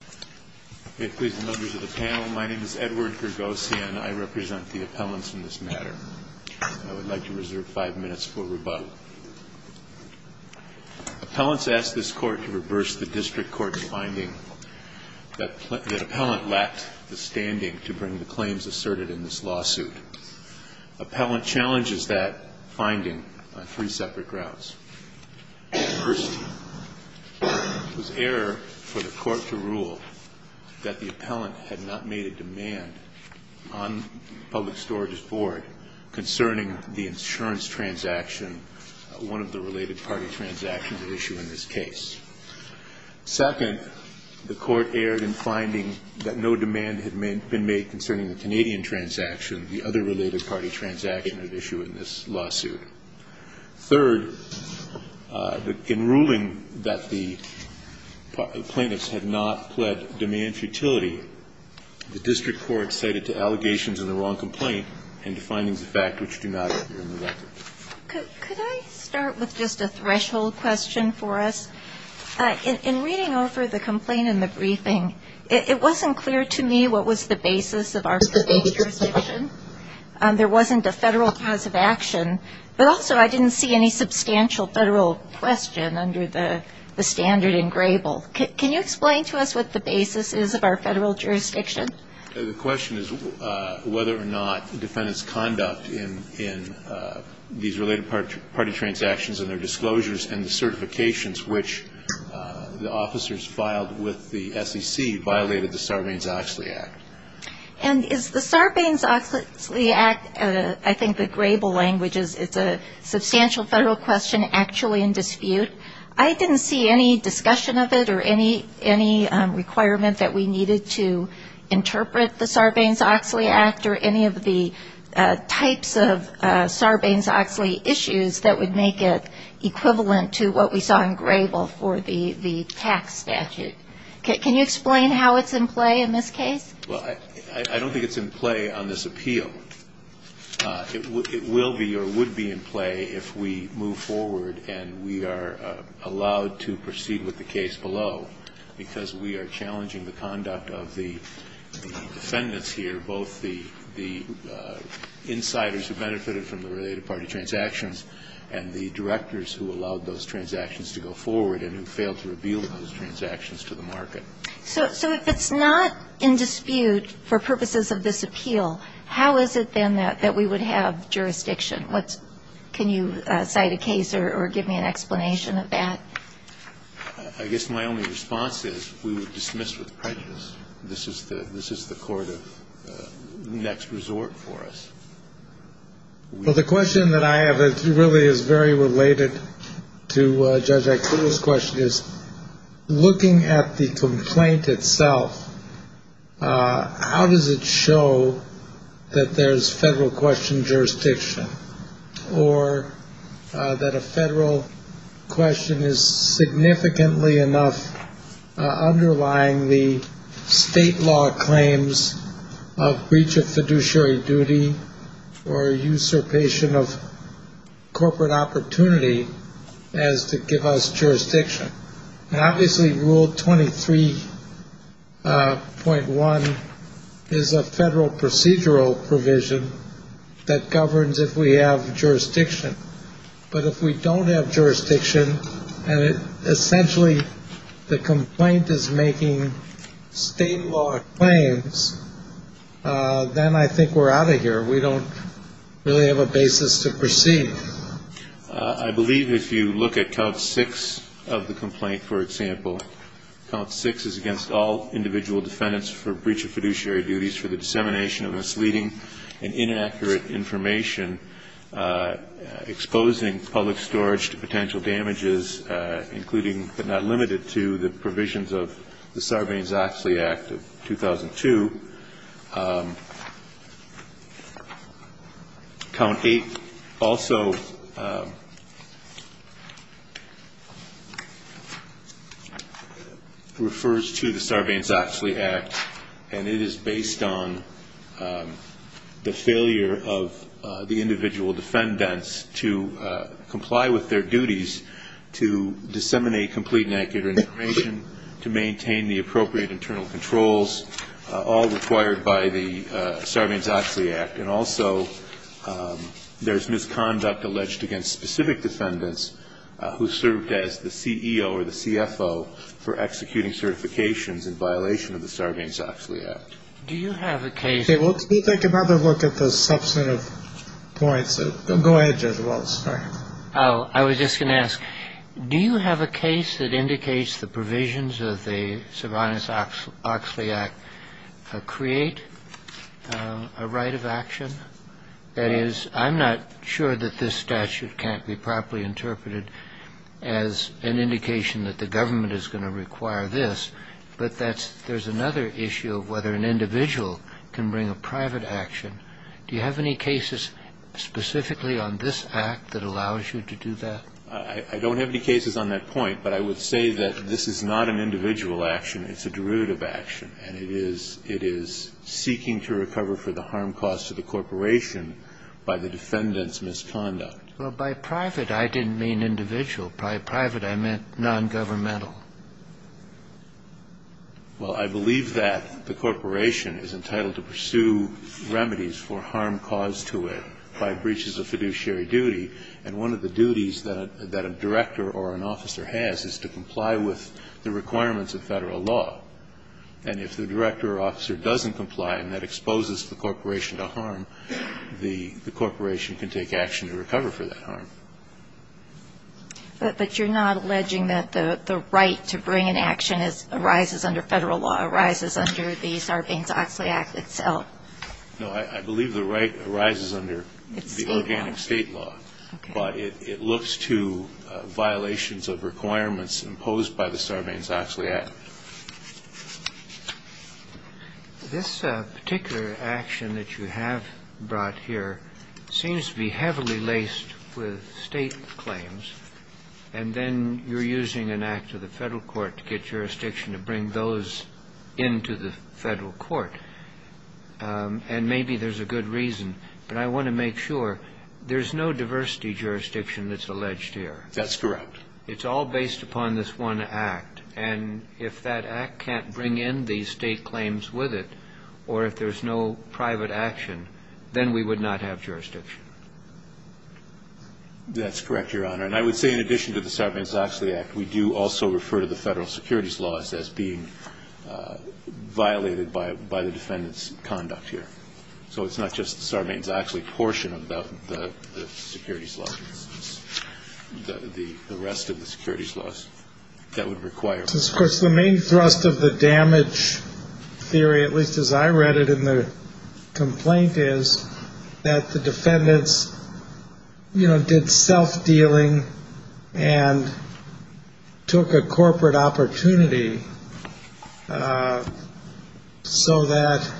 and I represent the appellants in this matter. I would like to reserve five minutes for rebuttal. Appellants ask this Court to reverse the district court's finding that the appellant lacked the standing to bring the claims asserted in this lawsuit. Appellant challenges that finding on three separate grounds. First, it was error for the Court to rule that the appellant had not made a demand on Public Storage's board concerning the insurance transaction, one of the related party transactions at issue in this case. Second, the Court erred in finding that no demand had been made concerning the Canadian transaction, the other related party transaction at issue in this lawsuit. Third, in ruling that the plaintiffs had not pled demand futility, the district court cited to allegations of the wrong complaint and to findings of fact which do not appear in the record. Could I start with just a threshold question for us? In reading over the complaint and the briefing, it wasn't clear to me what was the basis of our federal jurisdiction. There wasn't a federal cause of action, but also I didn't see any substantial federal question under the standard engrable. Can you explain to us what the basis is of our federal jurisdiction? The question is whether or not defendant's conduct in these related party transactions and their disclosures and the certifications which the officers filed with the SEC violated the Sarbanes-Oxley Act. And is the Sarbanes-Oxley Act, I think the grable language is it's a substantial federal question actually in dispute. I didn't see any discussion of it or any requirement that we needed to interpret the Sarbanes-Oxley Act or any of the types of Sarbanes-Oxley issues that would make it equivalent to what we saw in grable for the tax statute. Can you explain how it's in play in this case? I don't think it's in play on this appeal. It will be or would be in play if we move forward and we are allowed to proceed with the case below because we are challenging the conduct of the defendants here, both the insiders who benefited from the related party transactions and the directors who allowed those transactions to go forward and who failed to reveal those transactions to the market. So if it's not in dispute for purposes of this appeal, how is it then that we would have jurisdiction? Can you cite a case or give me an explanation of that? I guess my only response is we would dismiss with prejudice. This is the court of next resort for us. Well, the question that I have that really is very related to Judge Akula's question is, looking at the complaint itself, how does it show that there's federal question jurisdiction or that a federal question is significantly enough underlying the state law claims of breach of fiduciary duty or usurpation of corporate opportunity as to give us jurisdiction? And obviously Rule 23.1 is a federal procedural provision that governs if we have jurisdiction. But if we don't have jurisdiction and it essentially the complaint is making state law claims, then I think we're out of here. We don't really have a basis to proceed. I believe if you look at Count 6 of the complaint, for example, Count 6 is against all individual defendants for breach of fiduciary duties for the dissemination of misleading and inaccurate information exposing public storage to potential damages, including but not limited to the provisions of the Sarbanes-Oxley Act of 2002. Count 8 also refers to the Sarbanes-Oxley Act, and it is based on the failure of the to maintain the appropriate internal controls, all required by the Sarbanes-Oxley Act. And also there's misconduct alleged against specific defendants who served as the CEO or the CFO for executing certifications in violation of the Sarbanes-Oxley Act. Do you have a case of Okay. Well, let's take another look at the substantive points. Go ahead, Judge Wallace. Sorry. I was just going to ask, do you have a case that indicates the provisions of the Sarbanes-Oxley Act create a right of action? That is, I'm not sure that this statute can't be properly interpreted as an indication that the government is going to require this, but there's another issue of whether an individual can bring a private action. Do you have any cases specifically on this Act that allows you to do that? I don't have any cases on that point. But I would say that this is not an individual action. It's a derivative action. And it is seeking to recover for the harm caused to the corporation by the defendant's misconduct. Well, by private, I didn't mean individual. By private, I meant nongovernmental. Well, I believe that the corporation is entitled to pursue remedies for harm caused to it by breaches of fiduciary duty. And one of the duties that a director or an officer has is to comply with the requirements of Federal law. And if the director or officer doesn't comply and that exposes the corporation to harm, the corporation can take action to recover for that harm. But you're not alleging that the right to bring an action arises under Federal law, arises under the Sarbanes-Oxley Act itself? No. I believe the right arises under the organic State law. But it looks to violations of requirements imposed by the Sarbanes-Oxley Act. This particular action that you have brought here seems to be heavily laced with State claims, and then you're using an act of the Federal court to get jurisdiction to bring those into the Federal court. And maybe there's a good reason, but I want to make sure there's no diversity jurisdiction that's alleged here. That's correct. It's all based upon this one act. And if that act can't bring in these State claims with it or if there's no private action, then we would not have jurisdiction. That's correct, Your Honor. And I would say in addition to the Sarbanes-Oxley Act, we do also refer to the Federal securities laws as being violated by the defendant's conduct here. So it's not just the Sarbanes-Oxley portion of the securities law. It's the rest of the securities laws that would require. Of course, the main thrust of the damage theory, at least as I read it in the complaint, is that the defendants, you know, did self-dealing and took a corporate opportunity so that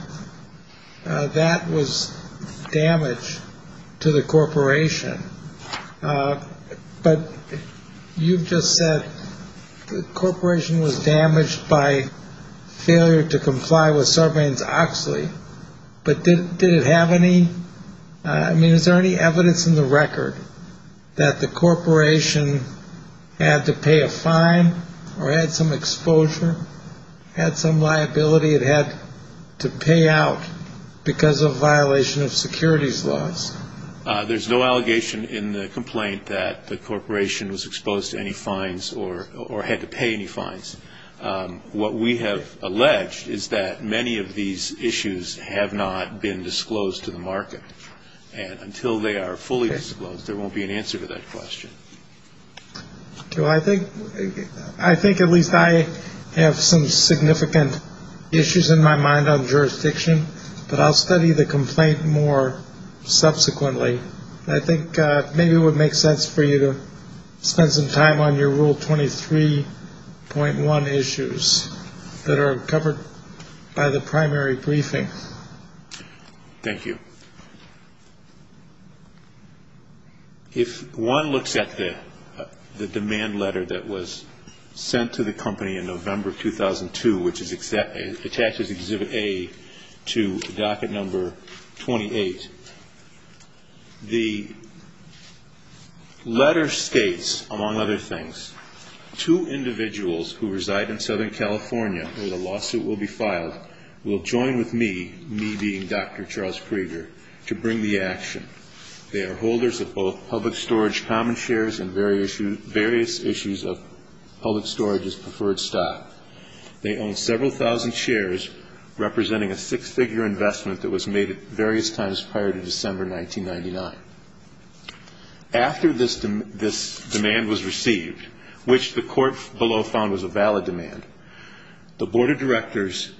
that was damage to the corporation. But you've just said the corporation was damaged by failure to comply with Sarbanes-Oxley, but did it have any ñ I mean, is there any evidence in the record that the corporation had to pay a fine or had some exposure, had some liability it had to pay out because of violation of securities laws? There's no allegation in the complaint that the corporation was exposed to any fines or had to pay any fines. What we have alleged is that many of these issues have not been disclosed to the market. And until they are fully disclosed, there won't be an answer to that question. I think at least I have some significant issues in my mind on jurisdiction, but I'll study the complaint more subsequently. I think maybe it would make sense for you to spend some time on your Rule 23.1 issues that are covered by the primary briefing. Thank you. If one looks at the demand letter that was sent to the company in November 2002, which is attached as Exhibit A to Docket Number 28, the letter states, among other things, two individuals who reside in Southern California where the lawsuit will be filed will join with me, me being Dr. Charles Prager, to bring the action. They are holders of both public storage common shares and various issues of public storage's preferred stock. They own several thousand shares, representing a six-figure investment that was made at various times prior to December 1999. After this demand was received, which the court below found was a valid demand, the board of directors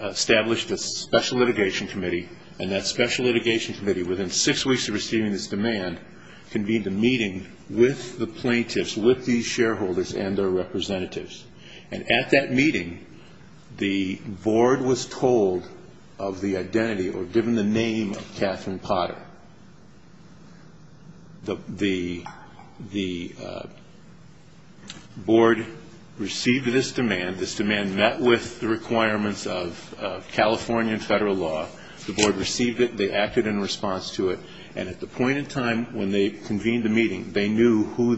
established a special litigation committee, and that special litigation committee, within six weeks of receiving this demand, convened a meeting with the plaintiffs, with these shareholders and their representatives. And at that meeting, the board was told of the identity or given the name of Catherine Potter. The board received this demand. This demand met with the requirements of California and federal law. The board received it. They acted in response to it. And at the point in time when they convened the meeting, they knew who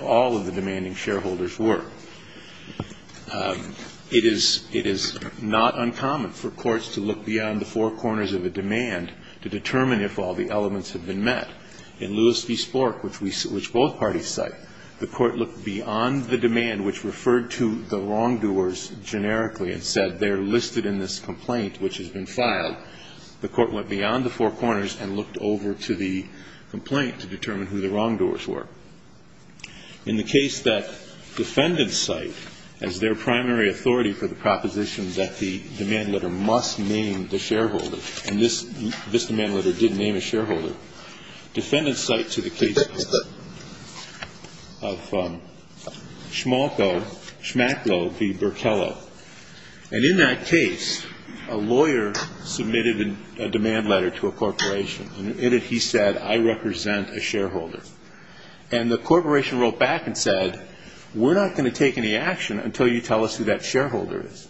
all of the demanding shareholders were. It is not uncommon for courts to look beyond the four corners of a demand to determine if all the elements have been met. In Lewis v. Spork, which both parties cite, the court looked beyond the demand which referred to the wrongdoers generically and said they're listed in this complaint which has been filed. The court went beyond the four corners and looked over to the complaint to determine who the wrongdoers were. In the case that defendant cite as their primary authority for the proposition that the demand letter must name the shareholder, and this demand letter did name a shareholder, defendant cite to the case of Schmalko, Schmacklo v. Berkello. And in that case, a lawyer submitted a demand letter to a corporation, and in it he said, I represent a shareholder. And the corporation wrote back and said, we're not going to take any action until you tell us who that shareholder is.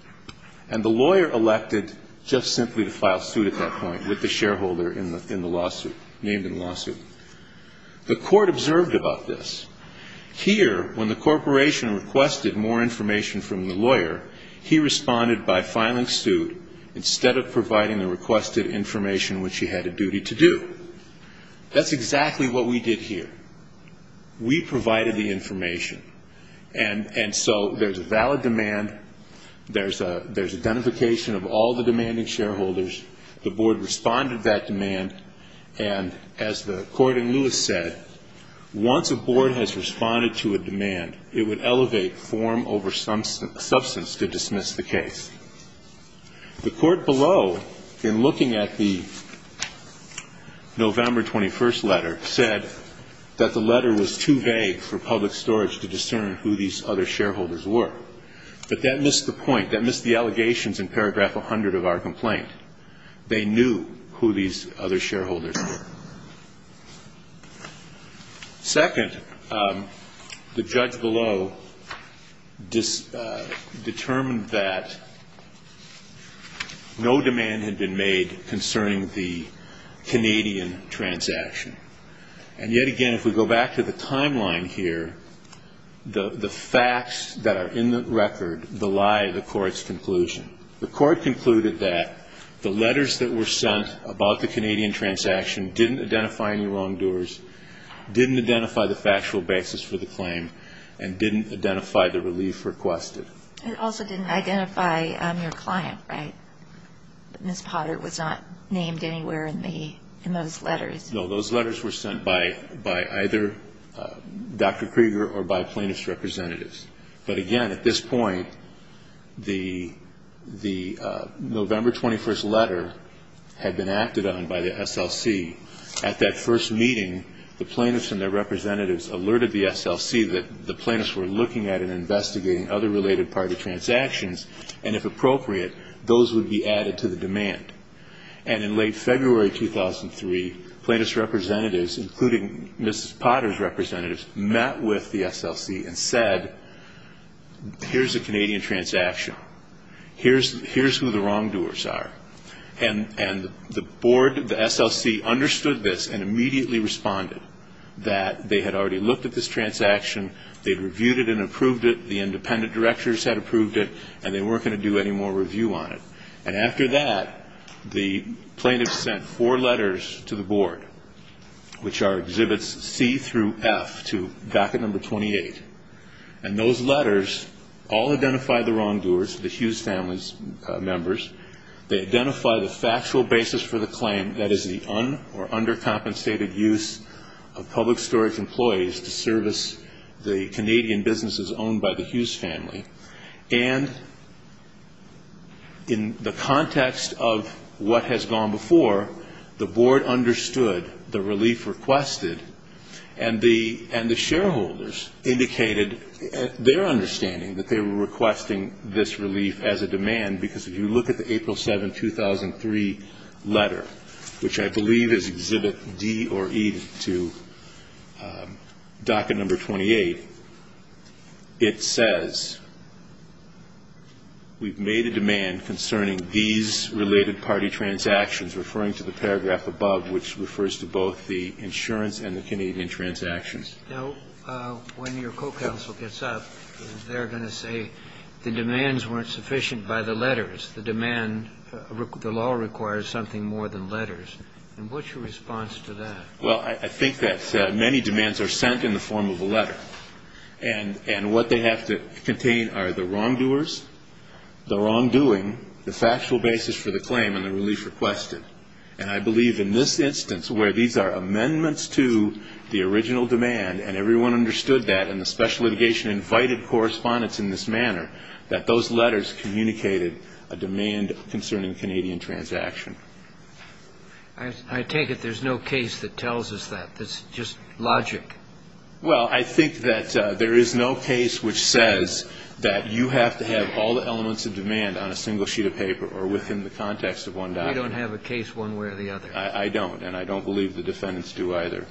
And the lawyer elected just simply to file suit at that point with the shareholder in the lawsuit, named in the lawsuit. The court observed about this. Here, when the corporation requested more information from the lawyer, he responded by filing suit instead of providing the requested information which he had a duty to do. That's exactly what we did here. We provided the information. And so there's a valid demand. There's identification of all the demanding shareholders. The board responded to that demand. And as the court in Lewis said, once a board has responded to a demand, it would elevate form over substance to dismiss the case. The court below, in looking at the November 21st letter, said that the letter was too vague for public storage to discern who these other shareholders were. But that missed the point. That missed the allegations in paragraph 100 of our complaint. They knew who these other shareholders were. Second, the judge below determined that no demand had been made concerning the Canadian transaction. And yet again, if we go back to the timeline here, the facts that are in the record belie the court's conclusion. The court concluded that the letters that were sent about the Canadian transaction didn't identify any wrongdoers, didn't identify the factual basis for the claim, and didn't identify the relief requested. It also didn't identify your client, right? Ms. Potter was not named anywhere in those letters. No, those letters were sent by either Dr. Krieger or by plaintiff's representatives. But again, at this point, the November 21st letter had been acted on by the SLC. At that first meeting, the plaintiffs and their representatives alerted the SLC that the plaintiffs were looking at and investigating other related party transactions, and if appropriate, those would be added to the demand. And in late February 2003, plaintiffs' representatives, and said, here's a Canadian transaction. Here's who the wrongdoers are. And the board, the SLC, understood this and immediately responded that they had already looked at this transaction, they'd reviewed it and approved it, the independent directors had approved it, and they weren't going to do any more review on it. And after that, the plaintiffs sent four letters to the board, which are exhibits C through F to docket number 28. And those letters all identify the wrongdoers, the Hughes family members. They identify the factual basis for the claim, that is the un- or undercompensated use of public storage employees to service the Canadian businesses owned by the Hughes family. And in the context of what has gone before, the board understood the relief requested, and the shareholders indicated their understanding that they were requesting this relief as a demand, because if you look at the April 7, 2003 letter, which I believe is exhibit D or E to docket number 28, it says, we've made a demand concerning these related party transactions, referring to the paragraph above, which refers to both the insurance and the Canadian transactions. Now, when your co-counsel gets up, they're going to say the demands weren't sufficient by the letters. The demand, the law requires something more than letters. And what's your response to that? Well, I think that many demands are sent in the form of a letter. And what they have to contain are the wrongdoers, the wrongdoing, the factual basis for the claim, and the relief requested. And I believe in this instance, where these are amendments to the original demand, and everyone understood that, and the special litigation invited correspondence in this manner, that those letters communicated a demand concerning Canadian transaction. I take it there's no case that tells us that. That's just logic. Well, I think that there is no case which says that you have to have all the elements of demand on a single sheet of paper or within the context of one document. We don't have a case one way or the other. I don't. And I don't believe the defendants do either.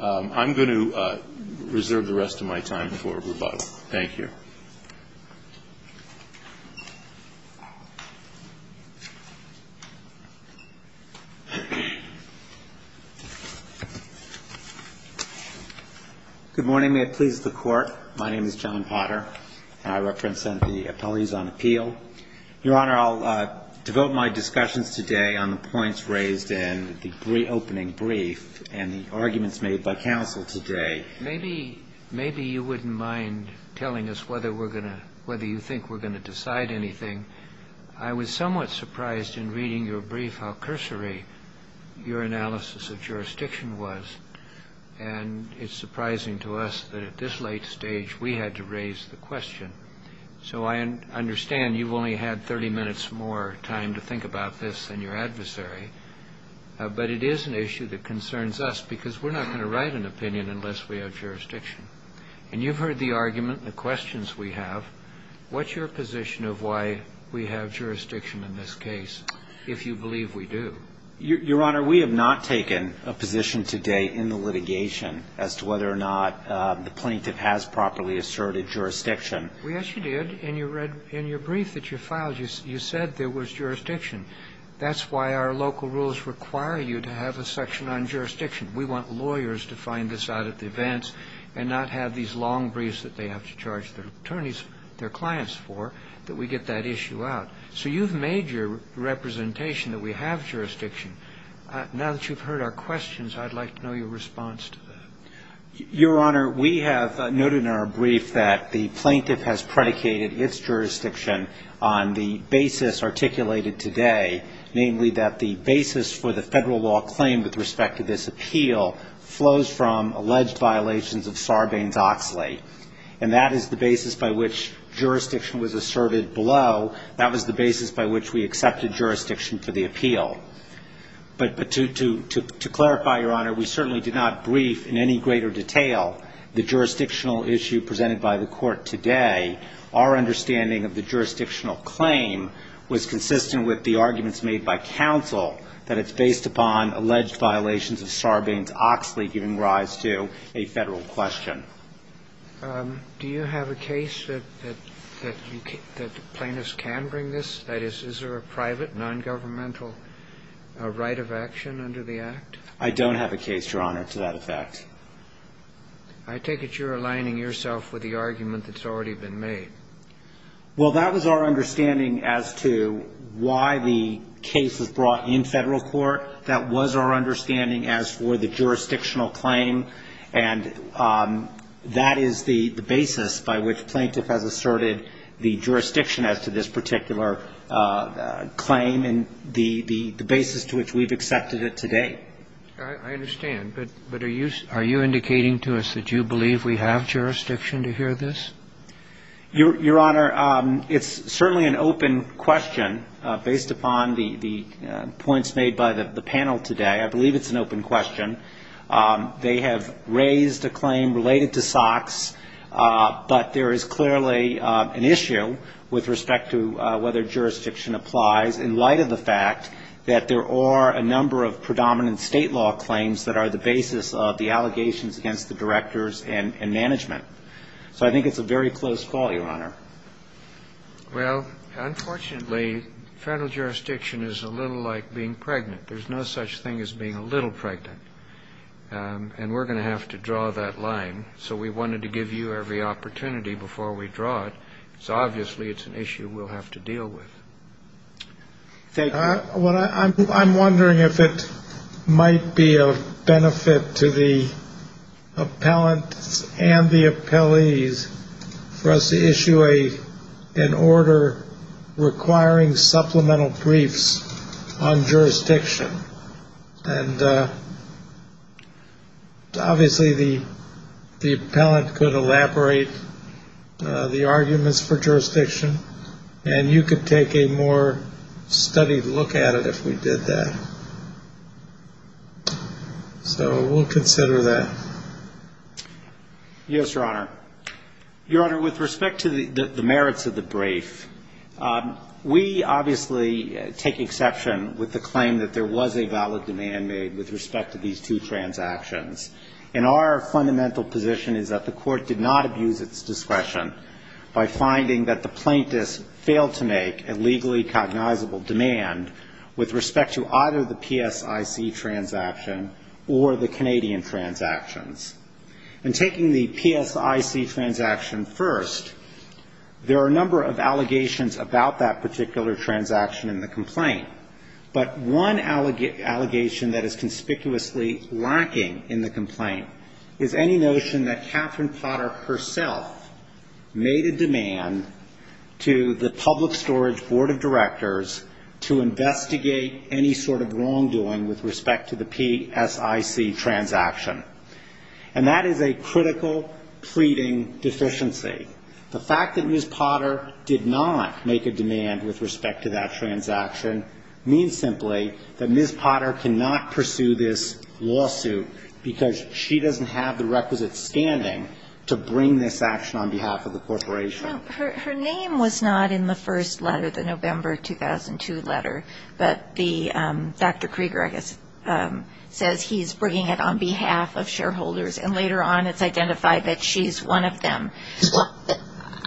I'm going to reserve the rest of my time for rebuttal. Thank you. Good morning. May it please the Court. My name is John Potter, and I represent the Appellees on Appeal. Your Honor, I'll devote my discussions today on the points raised in the opening brief and the arguments made by counsel today. Maybe you wouldn't mind telling us whether we're going to – whether you think we're going to decide anything. I was somewhat surprised in reading your brief how cursory your analysis of jurisdiction was, and it's surprising to us that at this late stage we had to raise the question. So I understand you've only had 30 minutes more time to think about this than your adversary, but it is an issue that concerns us because we're not going to write an opinion unless we have jurisdiction. And you've heard the argument and the questions we have. What's your position of why we have jurisdiction in this case, if you believe we do? Your Honor, we have not taken a position today in the litigation as to whether or not the plaintiff has properly asserted jurisdiction. Yes, you did. In your brief that you filed, you said there was jurisdiction. That's why our local rules require you to have a section on jurisdiction. We want lawyers to find this out at the events and not have these long briefs that they have to charge their attorneys, their clients for, that we get that issue out. So you've made your representation that we have jurisdiction. Now that you've heard our questions, I'd like to know your response to that. Your Honor, we have noted in our brief that the plaintiff has predicated its jurisdiction on the basis articulated today, namely that the basis for the Federal law claim with respect to this appeal flows from alleged violations of Sarbanes-Oxley. And that is the basis by which jurisdiction was asserted below. That was the basis by which we accepted jurisdiction for the appeal. But to clarify, Your Honor, we certainly did not brief in any greater detail the jurisdictional issue presented by the Court today. Our understanding of the jurisdictional claim was consistent with the arguments made by counsel that it's based upon alleged violations of Sarbanes-Oxley, giving rise to a Federal question. Do you have a case that plaintiffs can bring this? That is, is there a private, nongovernmental right of action under the Act? I don't have a case, Your Honor, to that effect. I take it you're aligning yourself with the argument that's already been made. Well, that was our understanding as to why the case was brought in Federal court. That was our understanding as for the jurisdictional claim. And that is the basis by which plaintiff has asserted the jurisdiction as to this particular claim and the basis to which we've accepted it today. I understand. But are you indicating to us that you believe we have jurisdiction to hear this? Your Honor, it's certainly an open question based upon the points made by the plaintiffs in the panel today. I believe it's an open question. They have raised a claim related to Sox, but there is clearly an issue with respect to whether jurisdiction applies in light of the fact that there are a number of predominant State law claims that are the basis of the allegations against the directors and management. So I think it's a very close call, Your Honor. Well, unfortunately, Federal jurisdiction is a little like being pregnant. There's no such thing as being a little pregnant. And we're going to have to draw that line. So we wanted to give you every opportunity before we draw it. So obviously it's an issue we'll have to deal with. Thank you. I'm wondering if it might be of benefit to the appellants and the appellees for us to issue an order requiring supplemental briefs on jurisdiction. And obviously the appellant could elaborate the arguments for jurisdiction, and you could take a more studied look at it if we did that. So we'll consider that. Yes, Your Honor. Your Honor, with respect to the merits of the brief, we obviously take exception with the claim that there was a valid demand made with respect to these two transactions. And our fundamental position is that the Court did not abuse its discretion by finding that the plaintiffs failed to make a legally cognizable demand with respect to either the PSIC transaction or the Canadian transactions. And taking the PSIC transaction first, there are a number of allegations about that particular transaction in the complaint. But one allegation that is conspicuously lacking in the complaint is any notion that Catherine Potter herself made a demand to the Public Storage Board of Directors to investigate any sort of wrongdoing with respect to the PSIC transaction. And that is a critical pleading deficiency. The fact that Ms. Potter did not make a demand with respect to that transaction means simply that Ms. Potter cannot pursue this lawsuit because she doesn't have the requisite standing to bring this action on behalf of the corporation. Her name was not in the first letter, the November 2002 letter. But Dr. Krieger, I guess, says he's bringing it on behalf of shareholders. And later on it's identified that she's one of them.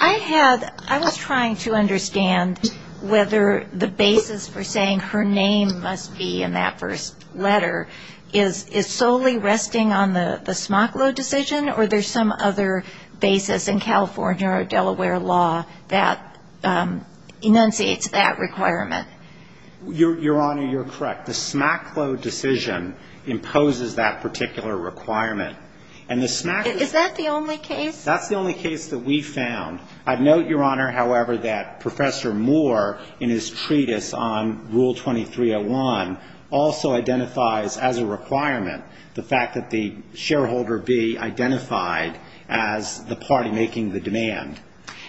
I was trying to understand whether the basis for saying her name must be in that first letter is solely resting on the Smocklow decision, or there's some other basis in California or Delaware law that enunciates that requirement. Your Honor, you're correct. The Smocklow decision imposes that particular requirement. Is that the only case? That's the only case that we found. I note, Your Honor, however, that Professor Moore, in his treatise on Rule 2301, also identifies as a requirement the fact that the shareholder be identified as the party making the demand.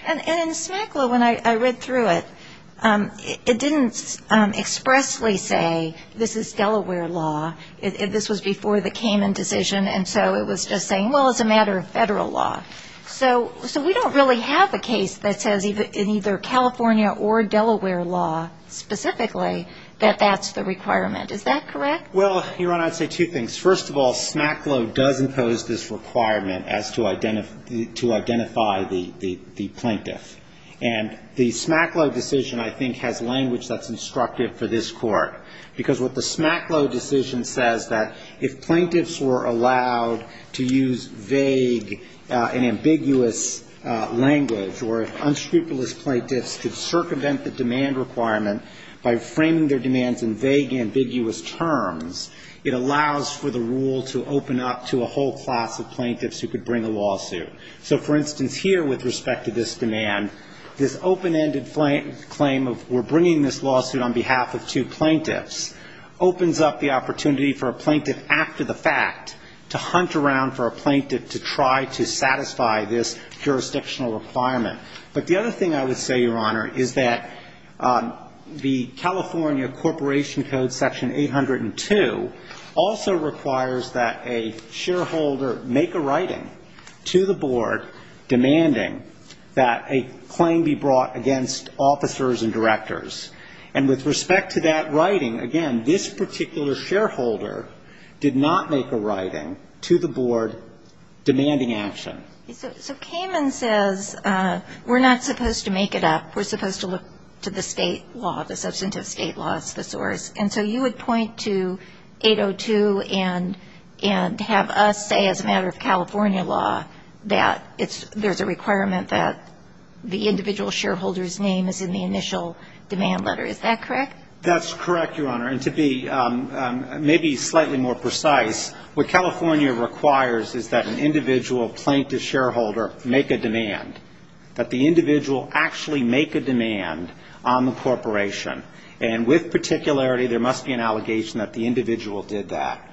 And in Smocklow, when I read through it, it didn't expressly say this is Delaware law. This was before the Kamen decision. And so it was just saying, well, it's a matter of federal law. So we don't really have a case that says in either California or Delaware law specifically that that's the requirement. Is that correct? Well, Your Honor, I'd say two things. First of all, Smocklow does impose this requirement as to identify the plaintiff. And the Smocklow decision, I think, has language that's instructive for this Court. Because what the Smocklow decision says that if plaintiffs were allowed to use vague and ambiguous language, or if unscrupulous plaintiffs could circumvent the demand requirement by framing their demands in vague, ambiguous terms, it allows for the rule to open up to a whole class of plaintiffs who could bring a lawsuit. So, for instance, here, with respect to this demand, this open-ended claim of we're bringing this lawsuit on behalf of two plaintiffs opens up the opportunity for a plaintiff after the fact to hunt around for a plaintiff to try to satisfy this jurisdictional requirement. But the other thing I would say, Your Honor, is that the California Corporation Code, Section 802, also requires that a shareholder make a writing to the board demanding that a claim be brought against officers and directors. And with respect to that writing, again, this particular shareholder did not make a writing to the board demanding action. So Kamen says we're not supposed to make it up. We're supposed to look to the state law, the substantive state law. It's the source. And so you would point to 802 and have us say, as a matter of California law, that there's a requirement that the individual shareholder's name is in the initial demand letter. Is that correct? That's correct, Your Honor. And to be maybe slightly more precise, what California requires is that an individual plaintiff shareholder make a demand, that the individual actually make a demand on the corporation. And with particularity, there must be an allegation that the individual did that.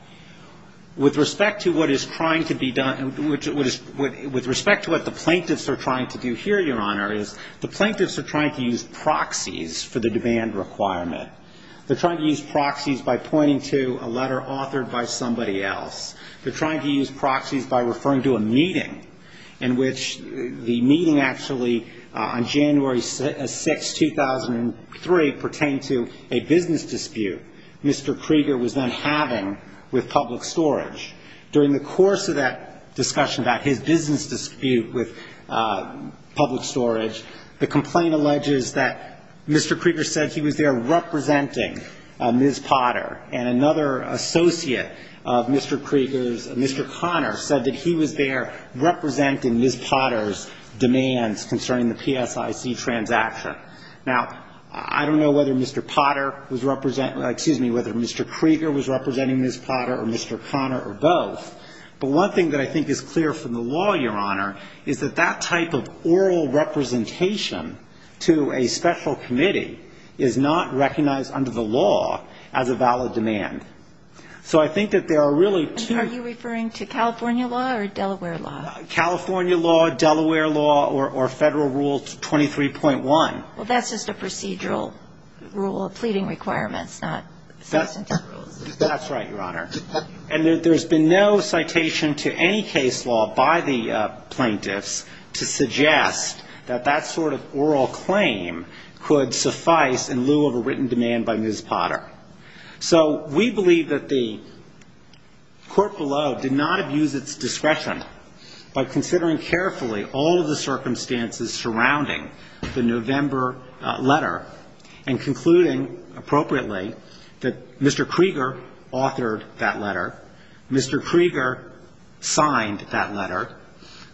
With respect to what is trying to be done, with respect to what the plaintiffs are trying to do here, Your Honor, is the plaintiffs are trying to use proxies for the demand requirement. They're trying to use proxies by pointing to a letter authored by somebody else. They're trying to use proxies by referring to a meeting in which the meeting actually, on January 6, 2003, pertained to a business dispute Mr. Krieger was then having with Public Storage. During the course of that discussion about his business dispute with Public Storage, the complaint alleges that Mr. Krieger said he was there representing Ms. Potter, and another associate of Mr. Krieger's, Mr. Connor, said that he was there representing Ms. Potter's demands concerning the PSIC transaction. Now, I don't know whether Mr. Potter was representing or, excuse me, whether Mr. Krieger was representing Ms. Potter or Mr. Connor or both, but one thing that I think is clear from the law, Your Honor, is that that type of oral representation to a special committee is not recognized under the law as a valid demand. So I think that there are really two --. Are you referring to California law or Delaware law? California law, Delaware law, or Federal Rule 23.1. Well, that's just a procedural rule of pleading requirements, not essential rules. That's right, Your Honor. And there's been no citation to any case law by the plaintiffs to suggest that that sort of oral claim could suffice in lieu of a written demand by Ms. Potter. So we believe that the court below did not abuse its discretion by considering carefully all of the circumstances surrounding the November letter and concluding appropriately that Mr. Krieger authored that letter, Mr. Krieger signed that letter.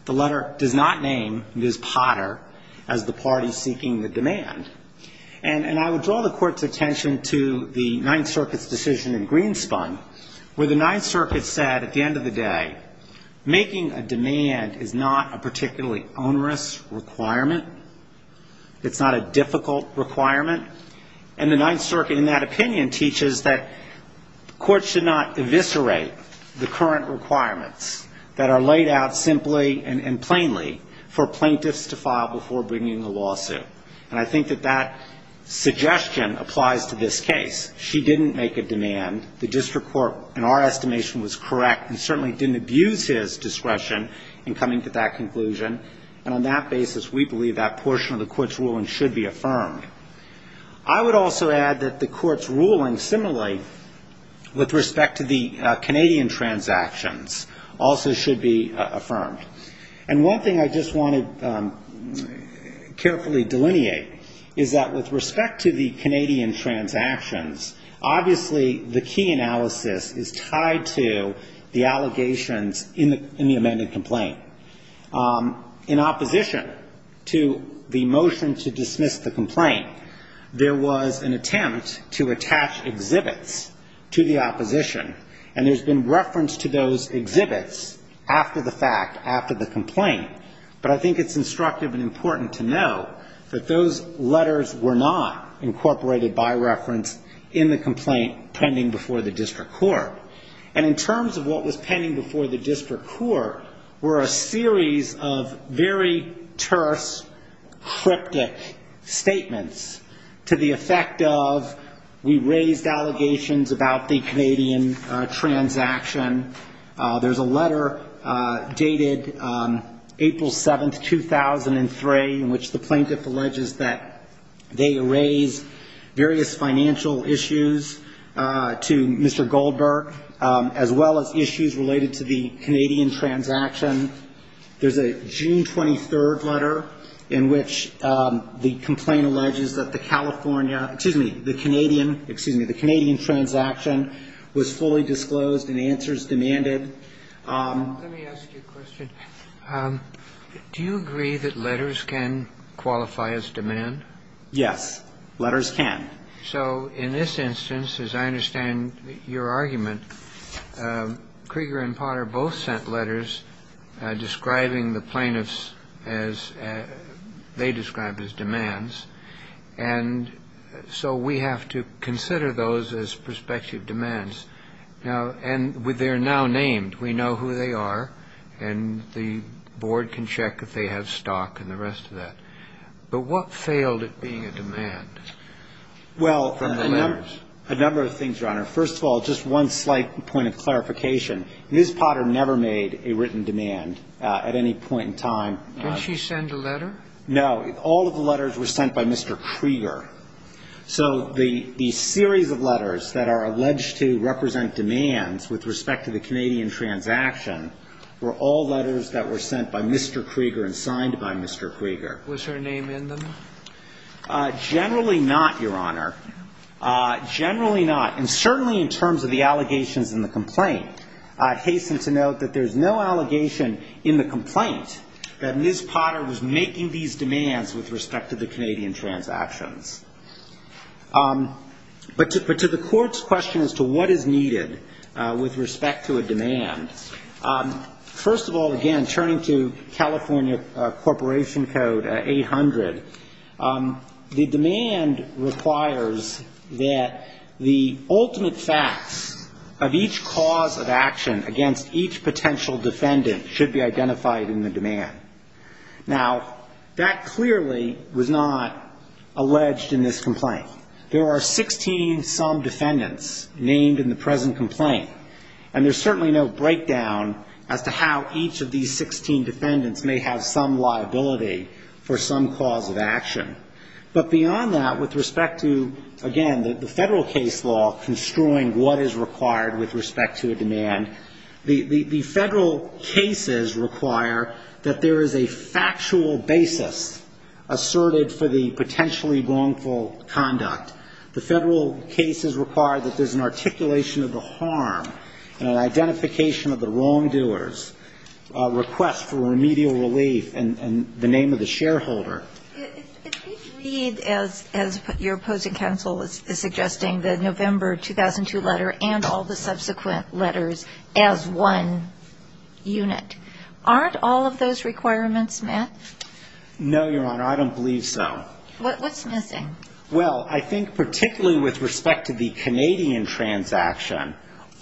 The letter does not name Ms. Potter as the party seeking the demand. And I would draw the court's attention to the Ninth Circuit's decision in Greenspun where the Ninth Circuit said at the end of the day, making a demand is not a particularly onerous requirement. It's not a difficult requirement. And the Ninth Circuit in that opinion teaches that courts should not eviscerate the current requirements that are laid out simply and plainly for plaintiffs to file before bringing a lawsuit. And I think that that suggestion applies to this case. She didn't make a demand. The district court, in our estimation, was correct and certainly didn't abuse his discretion in coming to that conclusion. And on that basis, we believe that portion of the court's ruling should be affirmed. I would also add that the court's ruling similarly with respect to the Canadian transactions also should be affirmed. And one thing I just want to carefully delineate is that with respect to the Canadian transactions, obviously the key analysis is tied to the allegations in the amended complaint. In opposition to the motion to dismiss the complaint, there was an attempt to attach exhibits to the opposition. And there's been reference to those exhibits after the fact, after the complaint. But I think it's instructive and important to know that those letters were not incorporated by reference in the complaint pending before the district court. And in terms of what was pending before the district court were a series of very terse, cryptic statements to the effect of we raised allegations about the Canadian transaction. There's a letter dated April 7th, 2003, in which the plaintiff alleges that they raised various financial issues to Mr. Goldberg, as well as issues related to the Canadian transaction. There's a June 23rd letter in which the complaint alleges that the California excuse me, the Canadian, excuse me, the Canadian transaction was fully disclosed and answers demanded. Let me ask you a question. Do you agree that letters can qualify as demand? Yes, letters can. So in this instance, as I understand your argument, Krieger and Potter both sent letters describing the plaintiffs as they described as demands. And so we have to consider those as prospective demands. Now, and they're now named. We know who they are. And the board can check if they have stock and the rest of that. But what failed at being a demand? Well, a number of things, Your Honor. First of all, just one slight point of clarification. Ms. Potter never made a written demand at any point in time. Did she send a letter? No. All of the letters were sent by Mr. Krieger. So the series of letters that are alleged to represent demands with respect to the Canadian transaction were all letters that were sent by Mr. Krieger and signed by Mr. Krieger. Was her name in them? Generally not, Your Honor. Generally not. And certainly in terms of the allegations in the complaint, I hasten to note that there's no allegation in the complaint that Ms. Potter was making these demands with respect to the Canadian transactions. But to the Court's question as to what is needed with respect to a demand, first of all, again, turning to California Corporation Code 800, the demand requires that the ultimate facts of each cause of action against each potential defendant should be identified in the demand. Now, that clearly was not alleged in this complaint. There are 16-some defendants named in the present complaint, and there's certainly no breakdown as to how each of these 16 defendants may have some liability for some cause of action. But beyond that, with respect to, again, the Federal case law construing what is required with respect to a demand, the Federal cases require that there is a factual basis asserted for the potentially wrongful conduct. The Federal cases require that there's an articulation of the harm and an identification of the wrongdoers, a request for remedial relief, and the name of the shareholder. If we read, as your opposing counsel is suggesting, the November 2002 letter and all the subsequent letters as one unit, aren't all of those requirements met? No, Your Honor, I don't believe so. What's missing? Well, I think particularly with respect to the Canadian transaction,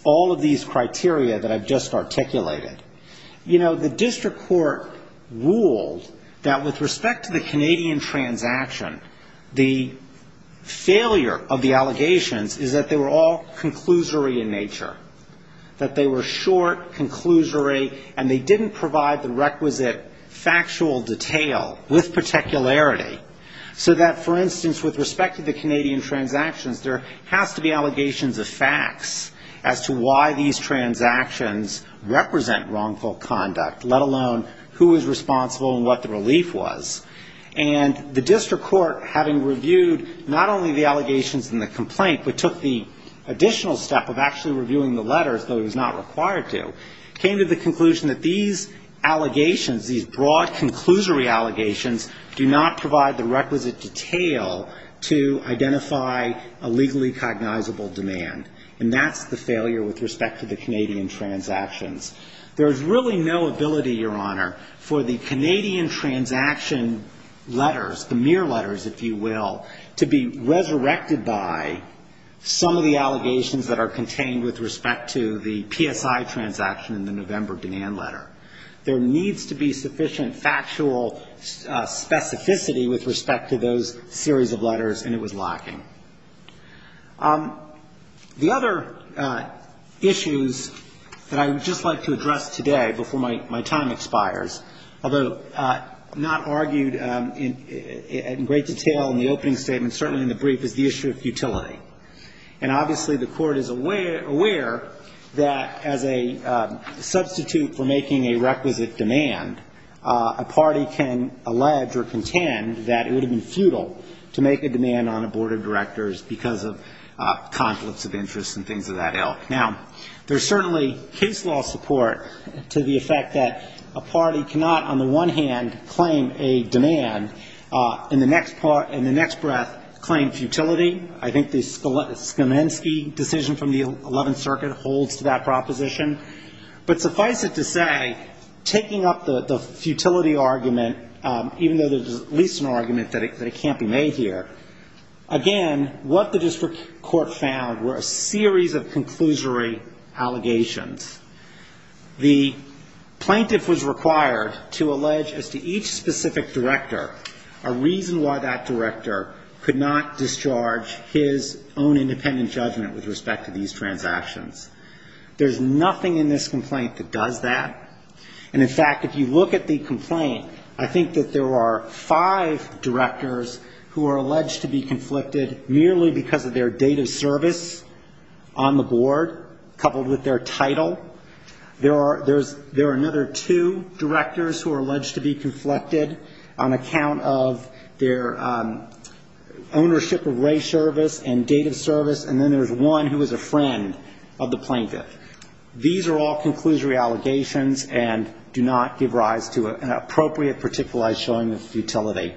all of these criteria that I've just articulated, you know, the district court ruled that with respect to the Canadian transaction, the failure of the allegations is that they were all conclusory in nature, that they were short, conclusory, and they didn't provide the requisite factual detail with particularity, so that, for instance, with respect to the Canadian transactions, there has to be allegations of facts as to why these transactions represent wrongful conduct, let alone who was responsible and what the relief was. And the district court, having reviewed not only the allegations in the complaint, but took the additional step of actually reviewing the letters, though it was not required to, came to the conclusion that these allegations, these broad, conclusory allegations do not provide the requisite detail to identify a legally cognizable demand, and that's the failure with respect to the Canadian transactions. There is really no ability, Your Honor, for the Canadian transaction letters, the mere letters, if you will, to be resurrected by some of the allegations that are contained with respect to the PSI transaction in the November demand letter. There needs to be sufficient factual specificity with respect to those series of letters, and it was lacking. The other issues that I would just like to address today before my time expires, although not argued in great detail in the opening statement, certainly in the brief, is the issue of futility. And obviously the Court is aware that as a substitute for making a requisite demand, a party can allege or contend that it would have been futile to make a demand on a board of directors because of conflicts of interest and things of that ilk. Now, there's certainly case law support to the effect that a party cannot, on the one hand, claim a demand, in the next breath claim futility. I think the Skomensky decision from the Eleventh Circuit holds to that proposition. But suffice it to say, taking up the futility argument, even though there's at least an argument that it can't be made here, again, what the district court found were a series of conclusory allegations. The plaintiff was required to allege as to each specific director a reason why that director could not discharge his own independent judgment with respect to these transactions. There's nothing in this complaint that does that. And, in fact, if you look at the complaint, I think that there are five directors who are alleged to be conflicted merely because of their date of service on the board, coupled with their title. There are another two directors who are alleged to be conflicted on account of their ownership of race service and date of service, and then there's one who is a friend of the plaintiff. These are all conclusory allegations and do not give rise to an appropriate, particularized showing of futility.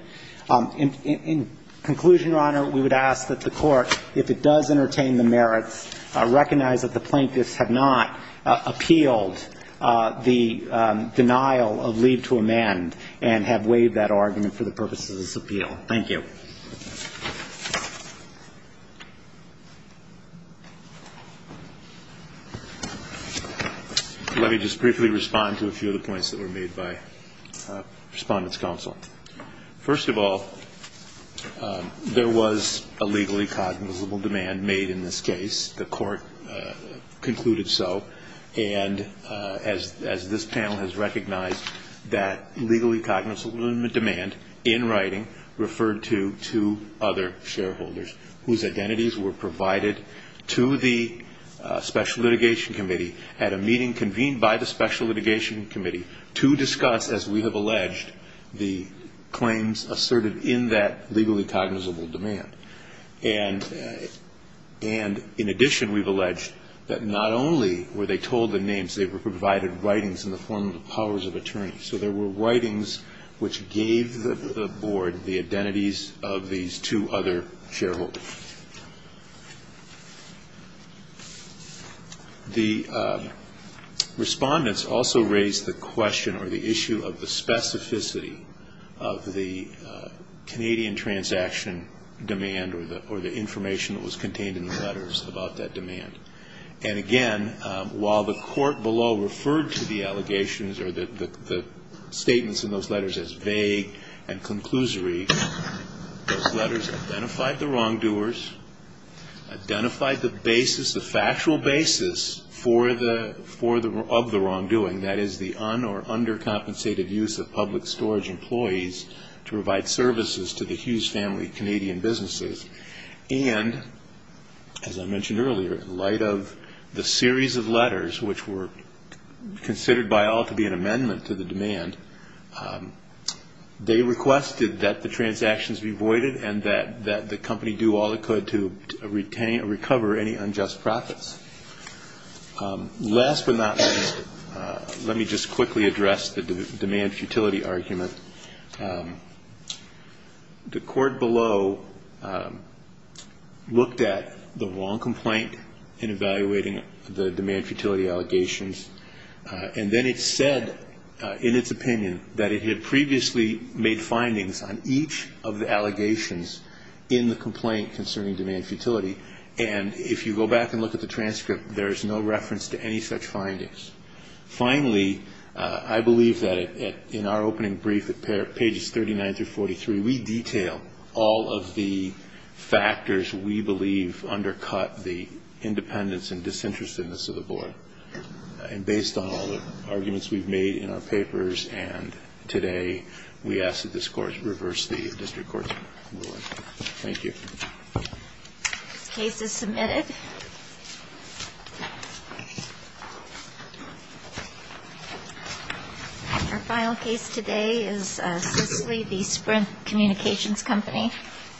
In conclusion, Your Honor, we would ask that the court, if it does entertain the merits, recognize that the plaintiffs have not appealed the denial of leave to amend and have waived that argument for the purposes of this appeal. Thank you. Let me just briefly respond to a few of the points that were made by Respondent's Counsel. First of all, there was a legally cognizable demand made in this case. The court concluded so, and as this panel has recognized, that legally cognizable demand in writing referred to two other shareholders whose identities were provided to the Special Litigation Committee at a meeting convened by the Special Litigation Committee to discuss, as we have alleged, the claims asserted in that legally cognizable demand. And in addition, we've alleged that not only were they told the names, they were provided writings in the form of the powers of attorney. So there were writings which gave the board the identities of these two other shareholders. The Respondents also raised the question or the issue of the specificity of the Canadian transaction demand or the information that was contained in the letters about that demand. And again, while the court below referred to the allegations or the statements in those letters as vague and conclusory, those letters identified the wrongdoers, identified the factual basis of the wrongdoing, that is the un- or undercompensated use of public storage employees to provide services to the Hughes family of Canadian businesses. And, as I mentioned earlier, in light of the series of letters which were considered by all to be an amendment to the demand, they requested that the transactions be voided and that the company do all it could to retain or recover any unjust profits. Last but not least, let me just quickly address the demand futility argument. The court below looked at the wrong complaint in evaluating the demand futility allegations, and then it said in its opinion that it had previously made findings on each of the allegations in the complaint concerning demand futility. And if you go back and look at the transcript, there is no reference to any such findings. Finally, I believe that in our opening brief at pages 39 through 43, we detail all of the factors we believe undercut the independence and disinterestedness of the board. And based on all the arguments we've made in our papers and today, we ask that this court reverse the district court's ruling. Thank you. This case is submitted. Our final case today is Cicely v. Sprint Communications Company.